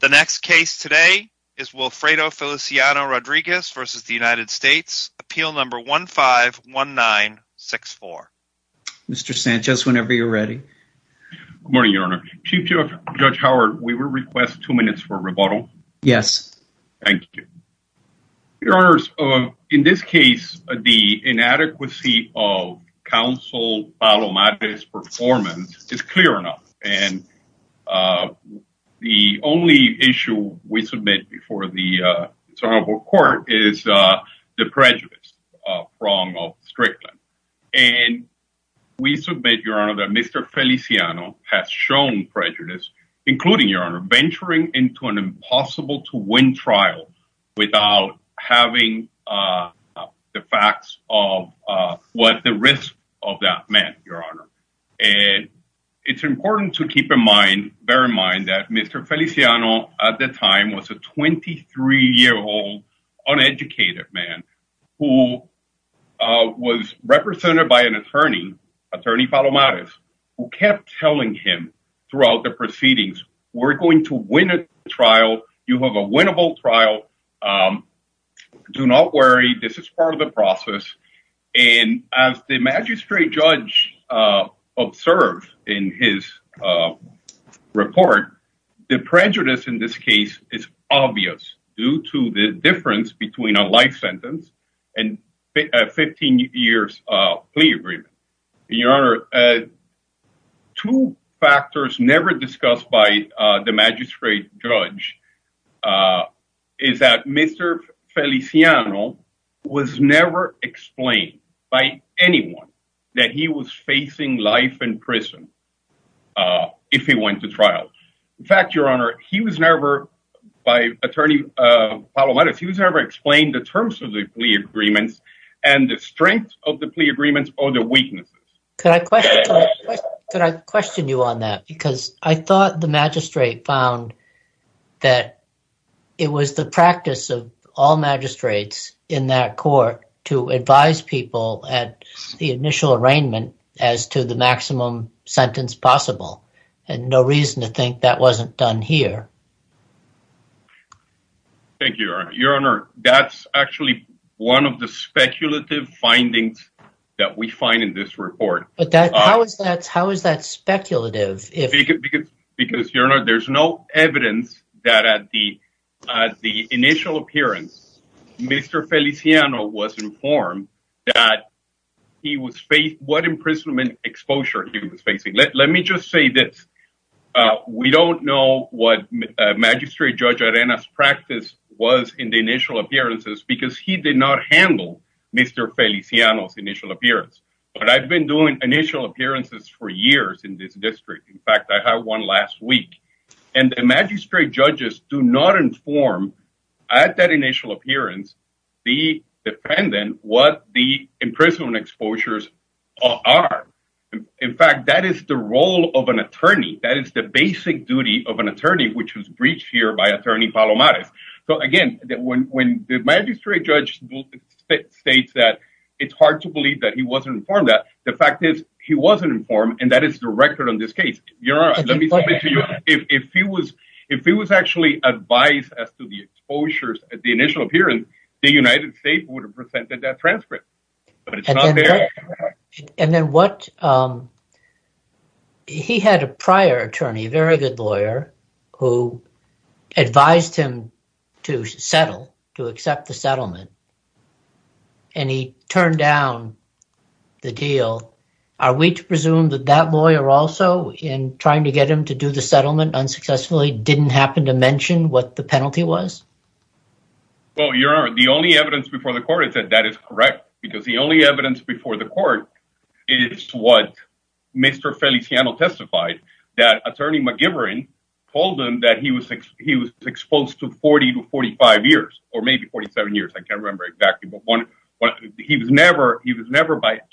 The next case today is Wilfredo Feliciano-Rodriguez versus the United States, appeal number 151964. Mr. Sanchez, whenever you're ready. Good morning, your honor. Chief Judge Howard, we will request two minutes for rebuttal. Yes. Thank you. Your honors, in this case, the inadequacy of counsel Palomares' performance is clear enough, and the only issue we submit before the court is the prejudice from Strickland. And we submit, your honor, that Mr. Feliciano has shown prejudice, including, your honor, venturing into an impossible to win trial without having the facts of what the risk of that meant, your honor. And it's important to keep in mind, bear in mind that Mr. Feliciano at the time was a 23-year-old uneducated man who was represented by an attorney, attorney Palomares, who kept telling him throughout the proceedings, we're going to win a trial. You have a winnable trial. Do not worry. This is part of the process. And as the magistrate judge observed in his report, the prejudice in this case is obvious due to the difference between a life sentence and a 15-year plea agreement. Your honor, two factors never discussed by the magistrate judge is that Mr. Feliciano was never explained by anyone that he was facing life in prison if he went to trial. In fact, your honor, he was never, by attorney Palomares, he was never explained the terms of the plea agreements and the strength of the plea agreements or the weaknesses. Could I question you on that? Because I thought the magistrate found that it was the practice of all magistrates in that court to advise people at the initial arraignment as to the maximum sentence possible and no reason to think that wasn't done here. Thank you, your honor. That's actually one of the speculative findings that we find in this report. How is that speculative? Because, your honor, there's no evidence that at the initial appearance, Mr. Feliciano was informed that he was facing what imprisonment exposure he was facing. Let me just say this. We don't know what magistrate judge Arena's practice was in the initial appearances because he did not handle Mr. Feliciano's initial appearance. But I've been doing initial appearances for years in this district. In fact, I had one last week. And the magistrate judges do not inform at that initial appearance, the defendant, what the imprisonment exposures are. In fact, that is the role of an attorney. That is the basic duty of an attorney, which was breached here by attorney Palomares. So again, when the the fact is he wasn't informed and that is the record on this case. If he was actually advised as to the exposures at the initial appearance, the United States would have presented that transcript. And then what he had a prior attorney, a very good lawyer, who advised him to settle, to accept the settlement. And he turned down the deal. Are we to presume that that lawyer also, in trying to get him to do the settlement unsuccessfully, didn't happen to mention what the penalty was? Well, Your Honor, the only evidence before the court is that that is correct, because the only evidence before the court is what Mr. Feliciano testified, that attorney told him that he was exposed to 40 to 45 years, or maybe 47 years. I can't remember exactly. He was never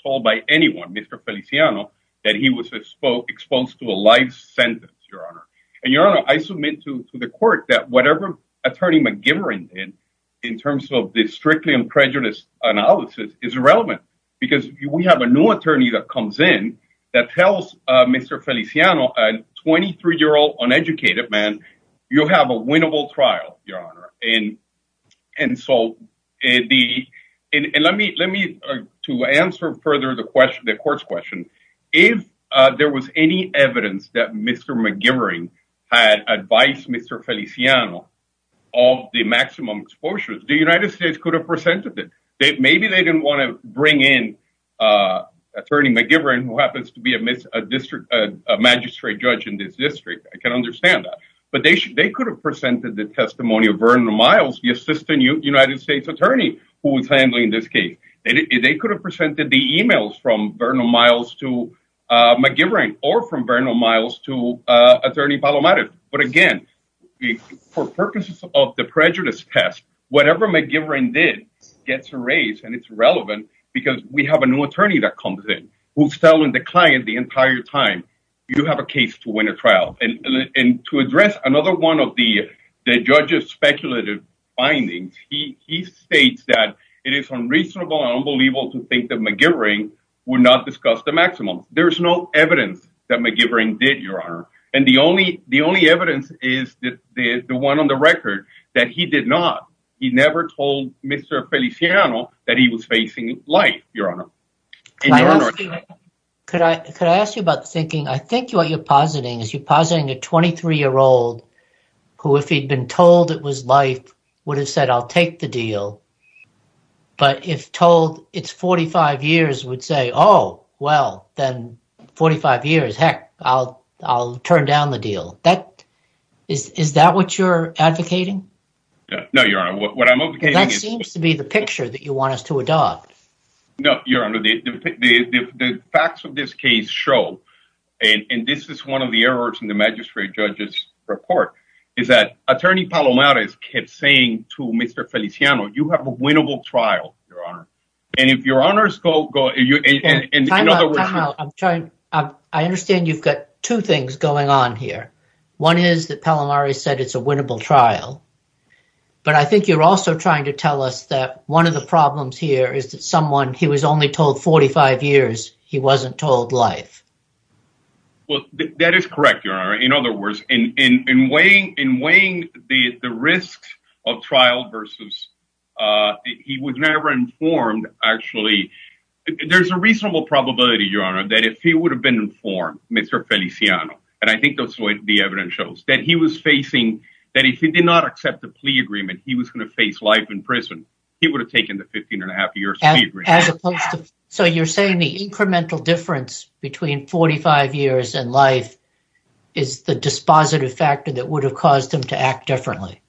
told by anyone, Mr. Feliciano, that he was exposed to a life sentence, Your Honor. And Your Honor, I submit to the court that whatever attorney McGivern did in terms of this strictly unprejudiced analysis is irrelevant, because we have a new attorney that comes in that tells Mr. Feliciano, a 23-year-old uneducated man, you'll have a winnable trial, Your Honor. And let me, to answer further the court's question, if there was any evidence that Mr. McGivern had advised Mr. Feliciano of the maximum exposures, the United States could have presented it. Maybe they didn't want to bring in attorney McGivern, who happens to be a magistrate judge in this district. I can understand that. But they could have presented the testimony of Vernal Miles, the assistant United States attorney who was handling this case. They could have presented the emails from Vernal Miles to McGivern, or from Vernal Miles to attorney Palomares. But again, for purposes of the prejudice test, whatever McGivern did gets erased and it's irrelevant, because we have a new attorney that comes in, who's telling the client the entire time, you have a case to win a trial. And to address another one of the judge's speculative findings, he states that it is unreasonable and unbelievable to think that McGivern would not discuss the maximum. There's no evidence that McGivern did, Your Honor. And the only evidence is the one on the record, that he did not. He never told Mr. Feliciano that he was facing life, Your Honor. Could I ask you about the thinking? I think what you're positing is you're positing a 23-year-old who, if he'd been told it was life, would have said, I'll take the deal. But if told it's 45 years, would say, oh, well, then 45 years, heck, I'll turn down the deal. Is that what you're advocating? No, Your Honor. What I'm advocating is... That seems to be the picture that you want us to adopt. No, Your Honor. The facts of this case show, and this is one of the errors in the magistrate judge's report, is that attorney Palomares kept saying to Mr. Feliciano, you have a winnable trial, Your Honor. And if Your Honor's go... I understand you've got two things going on here. One is that Palomares said it's a winnable trial. But I think you're also trying to tell us that one of the problems here is that someone, he was only told 45 years, he wasn't told life. Well, that is correct, Your Honor. In other words, in weighing the risks of trial versus... He was never informed, actually. There's a reasonable probability, Your Honor, that if he would have been informed, Mr. Feliciano, and I think that's the way the evidence shows, that he was facing... That if he did not accept the plea agreement, he was going to face life in prison. He would have taken the 15 and a half years. As opposed to... So you're saying the incremental difference between 45 years and life is the dispositive factor that would have caused him to act differently.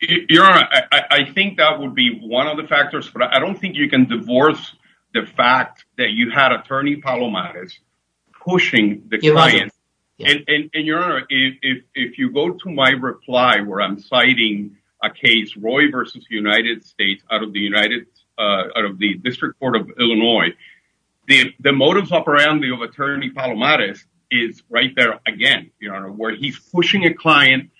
Your Honor, I think that would be one of the factors, but I don't think you can divorce the fact that you had attorney Palomares pushing the client. And Your Honor, if you go to my reply, where I'm citing a case, Roy versus United States out of the district court of Illinois, the motives up around the attorney Palomares is right there again, Your Honor, where he's pushing a client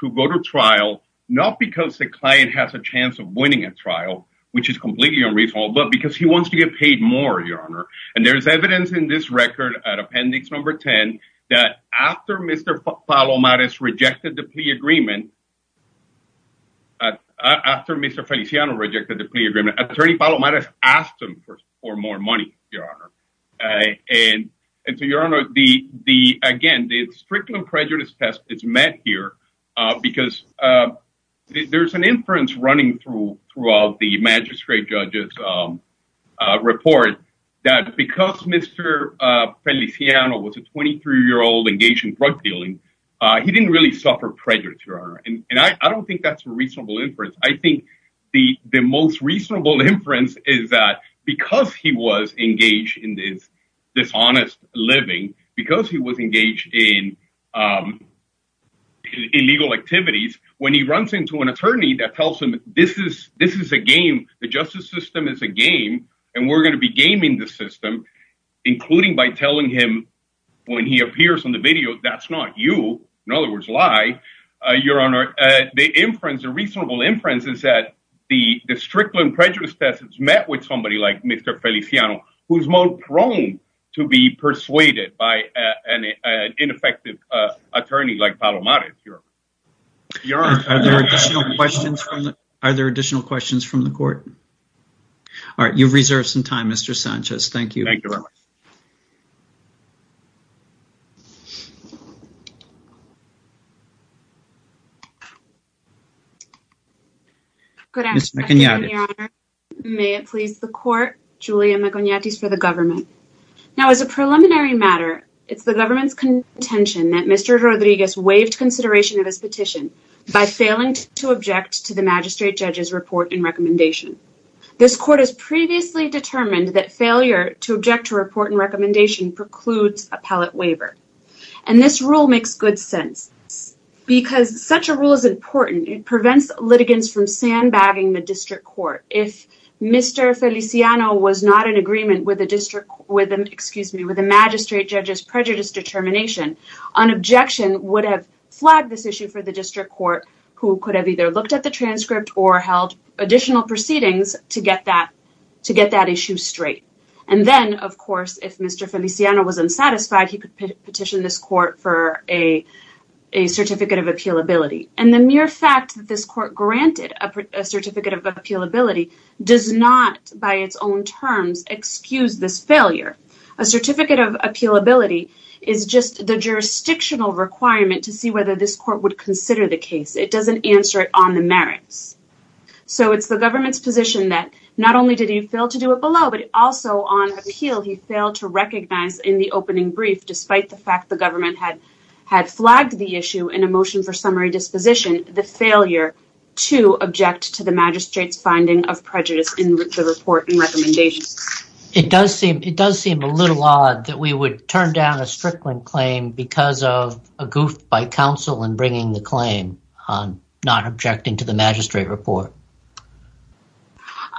to go to trial, not because the client has a chance of winning a trial, which is completely unreasonable, but because he wants to get paid more, Your Honor. And there's evidence in this case that after Mr. Feliciano rejected the plea agreement, attorney Palomares asked him for more money, Your Honor. And so, Your Honor, again, the strictly prejudice test is met here because there's an inference running through all the magistrate judges' report that because Mr. Feliciano was a 23-year-old engaged in drug dealing, he didn't really suffer prejudice, Your Honor. And I don't think that's a reasonable inference. I think the most reasonable inference is that because he was engaged in dishonest living, because he was engaged in illegal activities, when he runs into an attorney that tells him this is a game, the justice system is a game, and we're going to be gaming the system, including by telling him when he appears on the video, that's not you. In other words, lie. Your Honor, the inference, the reasonable inference, is that the strictly prejudice test is met with somebody like Mr. Feliciano, who's more prone to be persuaded by an ineffective attorney like Palomares, Your Honor. Are there additional questions from the court? All right, you've reserved some time, Mr. Sanchez. Thank you. Good afternoon, Your Honor. May it please the court, Julia Maconiatis for the government. Now, as a preliminary matter, it's the government's contention that Mr. Rodriguez waived consideration of his petition by failing to object to the magistrate judge's report and recommendation. This court has previously determined that failure to object to report and recommendation precludes appellate waiver, and this rule makes good sense, because such a rule is important. It prevents litigants from sandbagging the district court. If Mr. Feliciano was not in agreement with the district, excuse me, with the magistrate judge's prejudice determination, an objection would have flagged this issue for the district court, who could have either looked at the to get that issue straight. And then, of course, if Mr. Feliciano was unsatisfied, he could petition this court for a certificate of appealability. And the mere fact that this court granted a certificate of appealability does not, by its own terms, excuse this failure. A certificate of appealability is just the jurisdictional requirement to see whether this court would consider the case. It doesn't answer it on the merits. So it's the government's position that not only did he fail to do it below, but also on appeal, he failed to recognize in the opening brief, despite the fact the government had flagged the issue in a motion for summary disposition, the failure to object to the magistrate's finding of prejudice in the report and recommendations. It does seem a little odd that we would turn down a Strickland claim because of a goof by counsel in bringing the claim on not objecting to the report.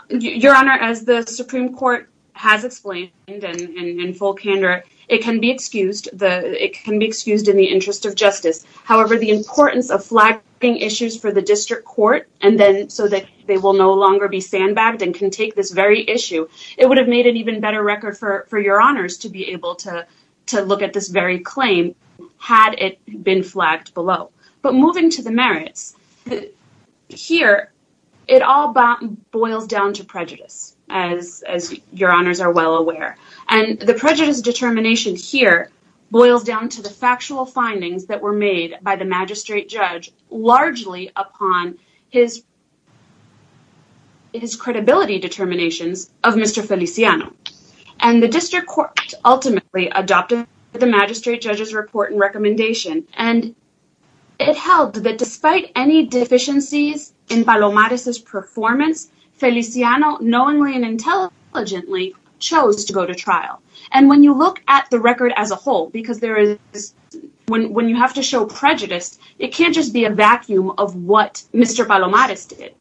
Your Honor, as the Supreme Court has explained in full candor, it can be excused in the interest of justice. However, the importance of flagging issues for the district court so that they will no longer be sandbagged and can take this very issue, it would have made an even better record for your honors to be able to look at this very claim had it been flagged below. But moving to the merits, here it all boils down to prejudice, as your honors are well aware. And the prejudice determination here boils down to the factual findings that were made by the magistrate judge largely upon his credibility determinations of Mr. Feliciano. And the district ultimately adopted the magistrate judge's report and recommendation. And it held that despite any deficiencies in Palomares' performance, Feliciano knowingly and intelligently chose to go to trial. And when you look at the record as a whole, because when you have to show prejudice, it can't just be a vacuum of what Mr. Palomares did.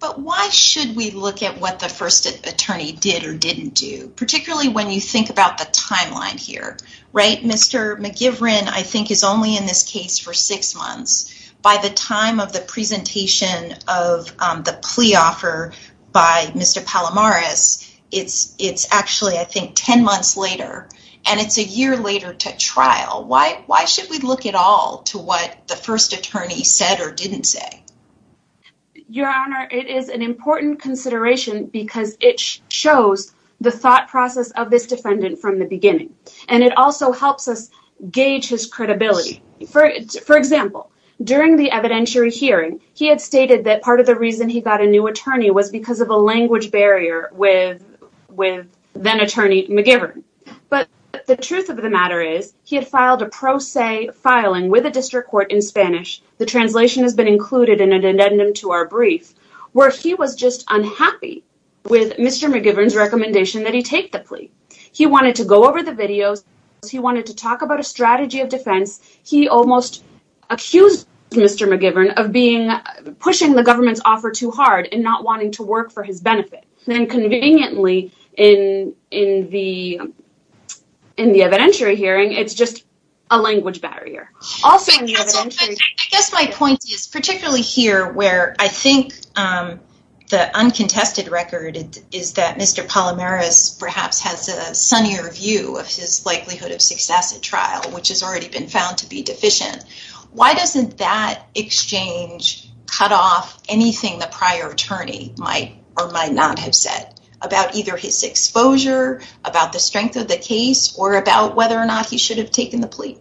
But why should we look at what the first attorney did or didn't do? Particularly when you think about the timeline here, right? Mr. McGivren, I think, is only in this case for six months. By the time of the presentation of the plea offer by Mr. Palomares, it's actually, I think, 10 months later. And it's a year later to trial. Why should we look at all to what the first attorney said or didn't say? Your Honor, it is an important consideration because it shows the thought process of this defendant from the beginning. And it also helps us gauge his credibility. For example, during the evidentiary hearing, he had stated that part of the reason he got a new attorney was because of a language barrier with then-attorney McGivren. But the truth of the matter is he had filed a pro se filing with a district court in Spanish. The translation has included in an addendum to our brief where he was just unhappy with Mr. McGivren's recommendation that he take the plea. He wanted to go over the videos. He wanted to talk about a strategy of defense. He almost accused Mr. McGivren of pushing the government's offer too hard and not wanting to work for his benefit. Then, conveniently, in the evidentiary hearing, it's just a language barrier. I guess my point is particularly here where I think the uncontested record is that Mr. Palomero perhaps has a sunnier view of his likelihood of success at trial, which has already been found to be deficient. Why doesn't that exchange cut off anything the prior attorney might or might not have said about either his exposure, about the strength of the case, or about whether or not he should have taken the plea?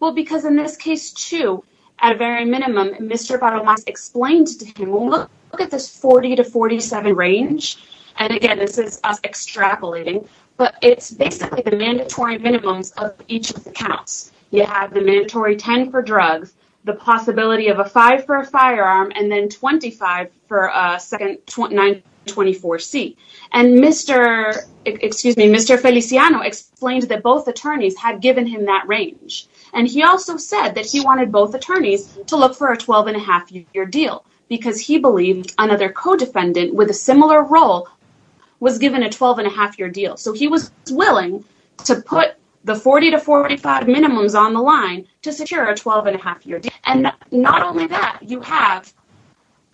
Well, because in this case, too, at a very minimum, Mr. Palomero explained to him, look at this 40 to 47 range. And again, this is us extrapolating, but it's basically the mandatory minimums of each of the counts. You have the mandatory 10 for drugs, the possibility of a 5 for a firearm, and then 25 for a second 924C. And Mr. Feliciano explained that both attorneys had given him that range. And he also said that he wanted both attorneys to look for a 12-and-a-half-year deal because he believed another co-defendant with a similar role was given a 12-and-a-half-year deal. So he was willing to put the 40 to 45 minimums on the line to secure a 12-and-a-half-year deal. And not only that, you have,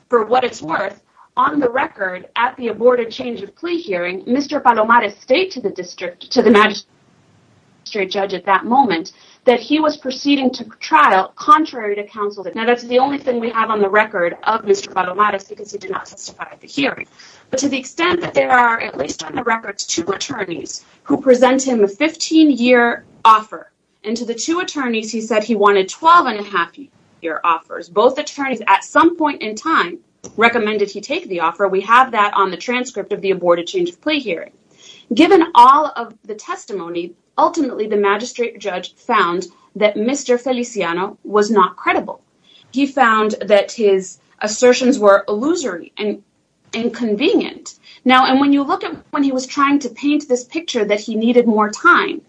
for what it's worth, on the record at the aborted change of plea hearing, Mr. Palomero stayed to the district, to the magistrate judge at that moment, that he was proceeding to trial contrary to counsel. Now, that's the only thing we have on the record of Mr. Palomero because he did not testify at the hearing. But to the extent that there are, at least on the record, two attorneys who present him a 15-year offer. And to the two attorneys, he said he wanted 12-and-a-half-year offers. Both attorneys, at some point in time, recommended he take the offer. We have that on the transcript of the aborted change of plea hearing. Given all of the testimony, ultimately, the magistrate judge found that Mr. Feliciano was not credible. He found that his assertions were illusory and inconvenient. Now, and when you look at when he was trying to paint this picture that he needed more time,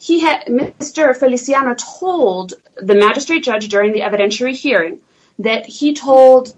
Mr. Feliciano told the magistrate judge during the evidentiary hearing that he told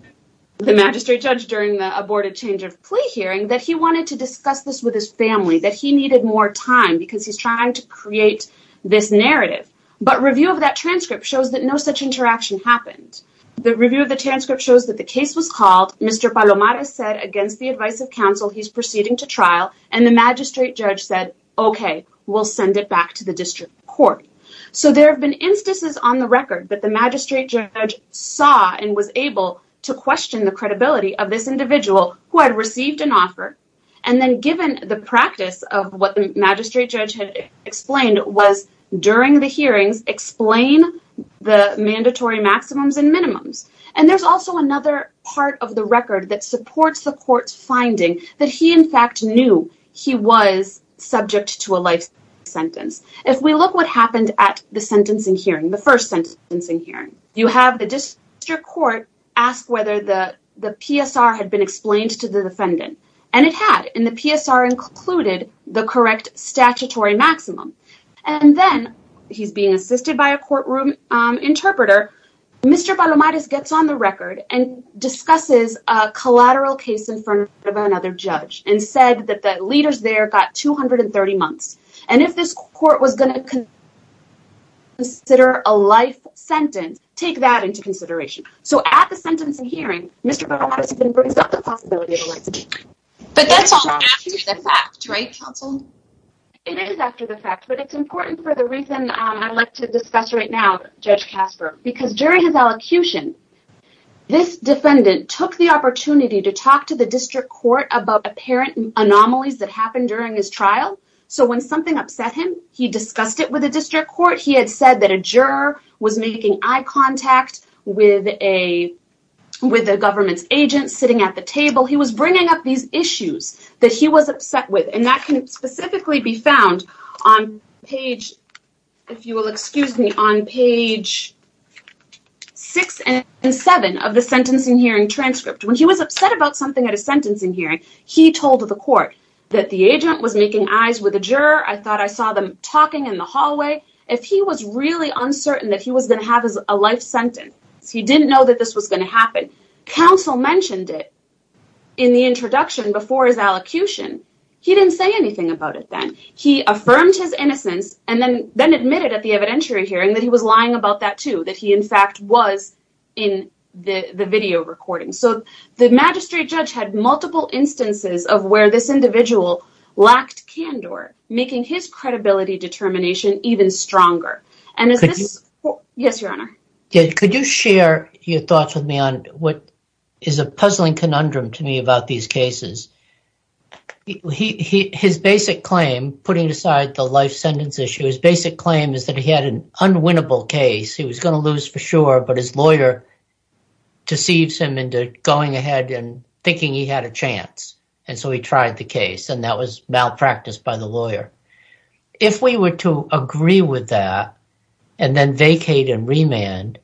the magistrate judge during the aborted change of plea hearing that he wanted to discuss this with his family, that he needed more time because he's trying to create this narrative. But review of that transcript shows that no such interaction happened. The review of the transcript shows that the case was called. Mr. Palomero said, against the advice of counsel, he's proceeding to trial. And the magistrate judge said, okay, we'll send it back to the district court. So there have been instances on the record that magistrate judge saw and was able to question the credibility of this individual who had received an offer. And then given the practice of what the magistrate judge had explained was during the hearings, explain the mandatory maximums and minimums. And there's also another part of the record that supports the court's finding that he, in fact, knew he was subject to a life sentence. If we look what happened at the sentencing hearing, the first sentencing hearing, you have the district court ask whether the PSR had been explained to the defendant. And it had. And the PSR included the correct statutory maximum. And then he's being assisted by a courtroom interpreter. Mr. Palomero gets on the record and discusses a collateral case in front of another judge and said that the leaders there got 230 months. And if this court was going to consider a life sentence, take that into consideration. So at the sentencing hearing, Mr. Palomero has been braced up the possibility of a life sentence. But that's all after the fact, right, counsel? It is after the fact, but it's important for the reason I'd like to discuss right now, Judge Casper, because during his elocution, this defendant took the opportunity to talk to the apparent anomalies that happened during his trial. So when something upset him, he discussed it with the district court. He had said that a juror was making eye contact with the government's agents sitting at the table. He was bringing up these issues that he was upset with. And that can specifically be found on page, if you will excuse me, on page six and seven of the sentencing hearing transcript. When he was upset about something at a sentencing hearing, he told the court that the agent was making eyes with a juror. I thought I saw them talking in the hallway. If he was really uncertain that he was going to have a life sentence, he didn't know that this was going to happen. Counsel mentioned it in the introduction before his elocution. He didn't say anything about it then. He affirmed his innocence and then admitted at the evidentiary hearing that he was lying about that too, that he in fact was in the video recording. So the magistrate judge had multiple instances of where this individual lacked candor, making his credibility determination even stronger. Yes, Your Honor. Could you share your thoughts with me on what is a puzzling conundrum to me about these cases? His basic claim, putting aside the life sentence issue, his basic claim is that he had an unwinnable case. He was going to lose for sure, but his lawyer deceives him into going ahead and thinking he had a chance. So he tried the case and that was malpracticed by the lawyer. If we were to agree with that and then vacate and remand,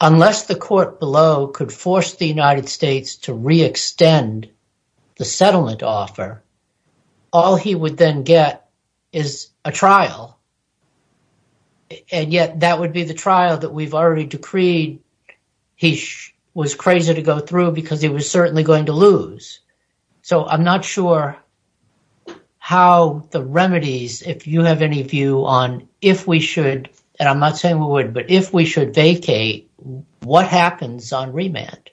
unless the court below could force the United States to re-extend the settlement offer, all he would then get is a trial. And yet that would be the trial that we've already decreed he was crazy to go through because he was certainly going to lose. So I'm not sure how the remedies, if you have any view on if we should, and I'm not saying we would, but if we should vacate, what happens on remand?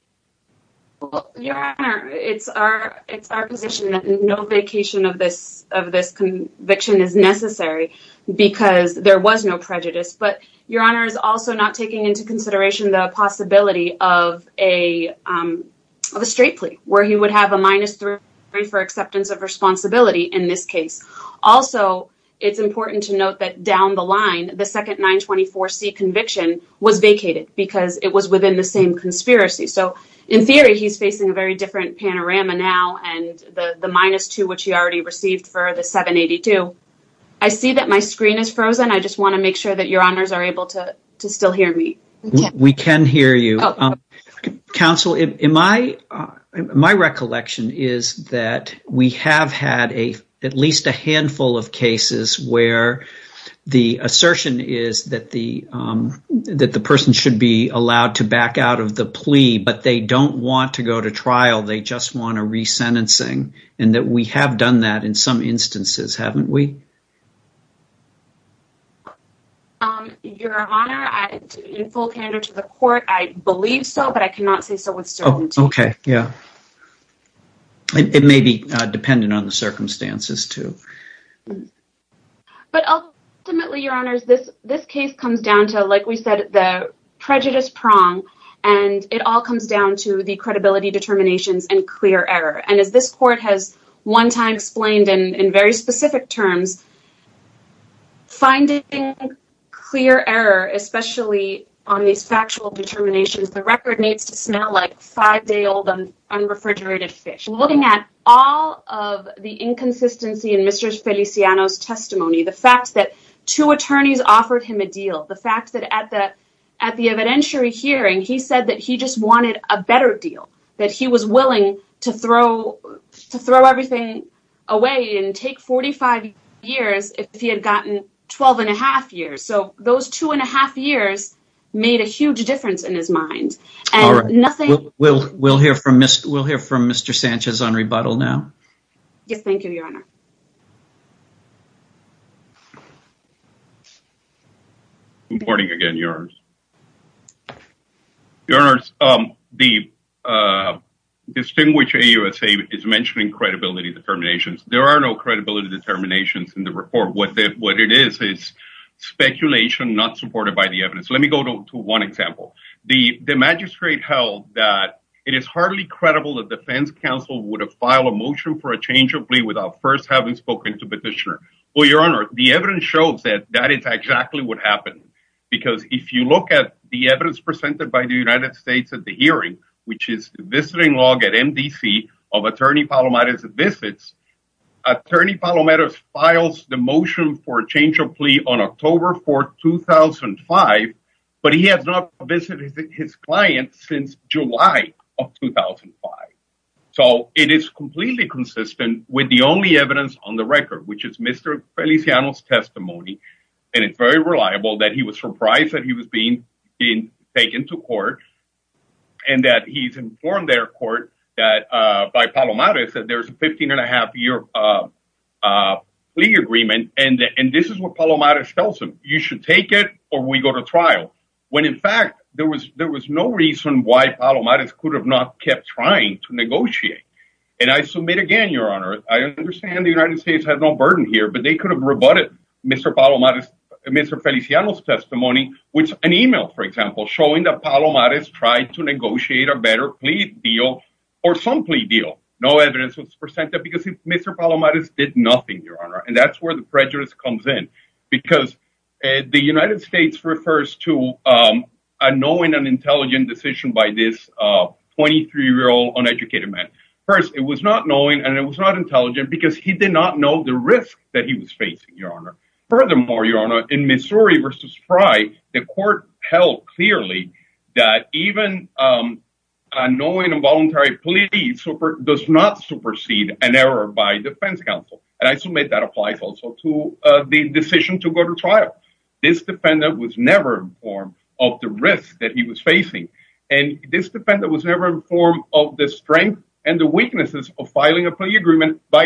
Your Honor, it's our position that no vacation of this conviction is necessary because there was no prejudice, but Your Honor is also not taking into consideration the possibility of a straight plea where he would have a minus three for acceptance of responsibility in this case. Also, it's important to note that down the line, the second 924C conviction was vacated because it was within the same conspiracy. So in theory, he's facing a very different panorama now and the minus two, which he already received for the 782. I see that my screen is frozen. I just want to make sure that Your Honors are able to still hear me. We can hear you. Counsel, my recollection is that we have had at least a handful of cases where the assertion is that the person should be and that we have done that in some instances, haven't we? Your Honor, in full candor to the court, I believe so, but I cannot say so with certainty. Okay, yeah. It may be dependent on the circumstances too. But ultimately, Your Honors, this case comes down to, like we said, the prejudice prong and it all has one time explained in very specific terms. Finding clear error, especially on these factual determinations, the record needs to smell like five day old unrefrigerated fish. Looking at all of the inconsistency in Mr. Feliciano's testimony, the fact that two attorneys offered him a deal, the fact that at the evidentiary hearing, he said that he just wanted a better deal, that he was willing to throw everything away and take 45 years if he had gotten 12 and a half years. So those two and a half years made a huge difference in his mind. We'll hear from Mr. Sanchez on rebuttal now. Yes, thank you, Your Honor. Good morning again, Your Honors. Your Honors, the distinguished AUSA is mentioning credibility determinations. There are no credibility determinations in the report. What it is, is speculation not supported by the evidence. Let me go to one example. The magistrate held that it is hardly credible that defense counsel would have filed a motion for a change of plea without first having spoken to petitioner. Well, Your Honor, the evidence shows that that is exactly what happened. Because if you look at the evidence presented by the United States at the hearing, which is visiting log at MDC of attorney Palomero's visits, attorney Palomero's files the motion for a change of plea on October 4th, 2005, but he has not visited his client since July of 2005. So it is completely consistent with the only evidence on the record, which is Mr. Feliciano's testimony. And it's very reliable that he was surprised that he was being taken to court and that he's informed their court that by Palomero's that there's a 15 and a half year plea agreement. And this is what Palomero's tells him. You should take it or we go to trial. When in fact there was, there was no reason why Palomero's could have not kept trying to negotiate. And I submit again, Your Honor, I understand the United States has no burden here, but they could have rebutted Mr. Palomero's Mr. Feliciano's testimony, which an email, for example, showing that Palomero's tried to negotiate a better plea deal or some plea deal. No evidence was presented because Mr. Palomero's did nothing, Your Honor. And that's where the prejudice comes in because the United States refers to a knowing and intelligent decision by this 23 year old uneducated man. First, it was not knowing and it was not intelligent because he did not know the risk that he was facing, Your Honor. Furthermore, Your Honor, in Missouri versus Frye, the court held clearly that even knowing involuntary plea does not supersede an error by defense counsel. And I submit that applies also to the decision to go to trial. This defendant was never informed of the risk that he was facing. And this defendant was never informed of the strength and the weaknesses of filing a plea agreement by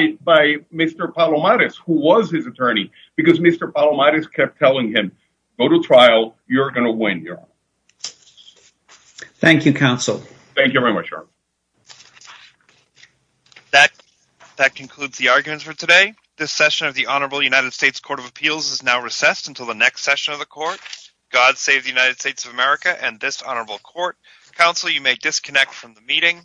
Mr. Palomero's who was his attorney because Mr. Palomero's kept telling him, go to trial. You're going to win, Your Honor. Thank you, counsel. Thank you very much, Your Honor. That concludes the arguments for today. This session of the Honorable United States Court of Appeals is now recessed until the next session of the court. God save the United States of America and this honorable court. Counsel, you may disconnect from the meeting.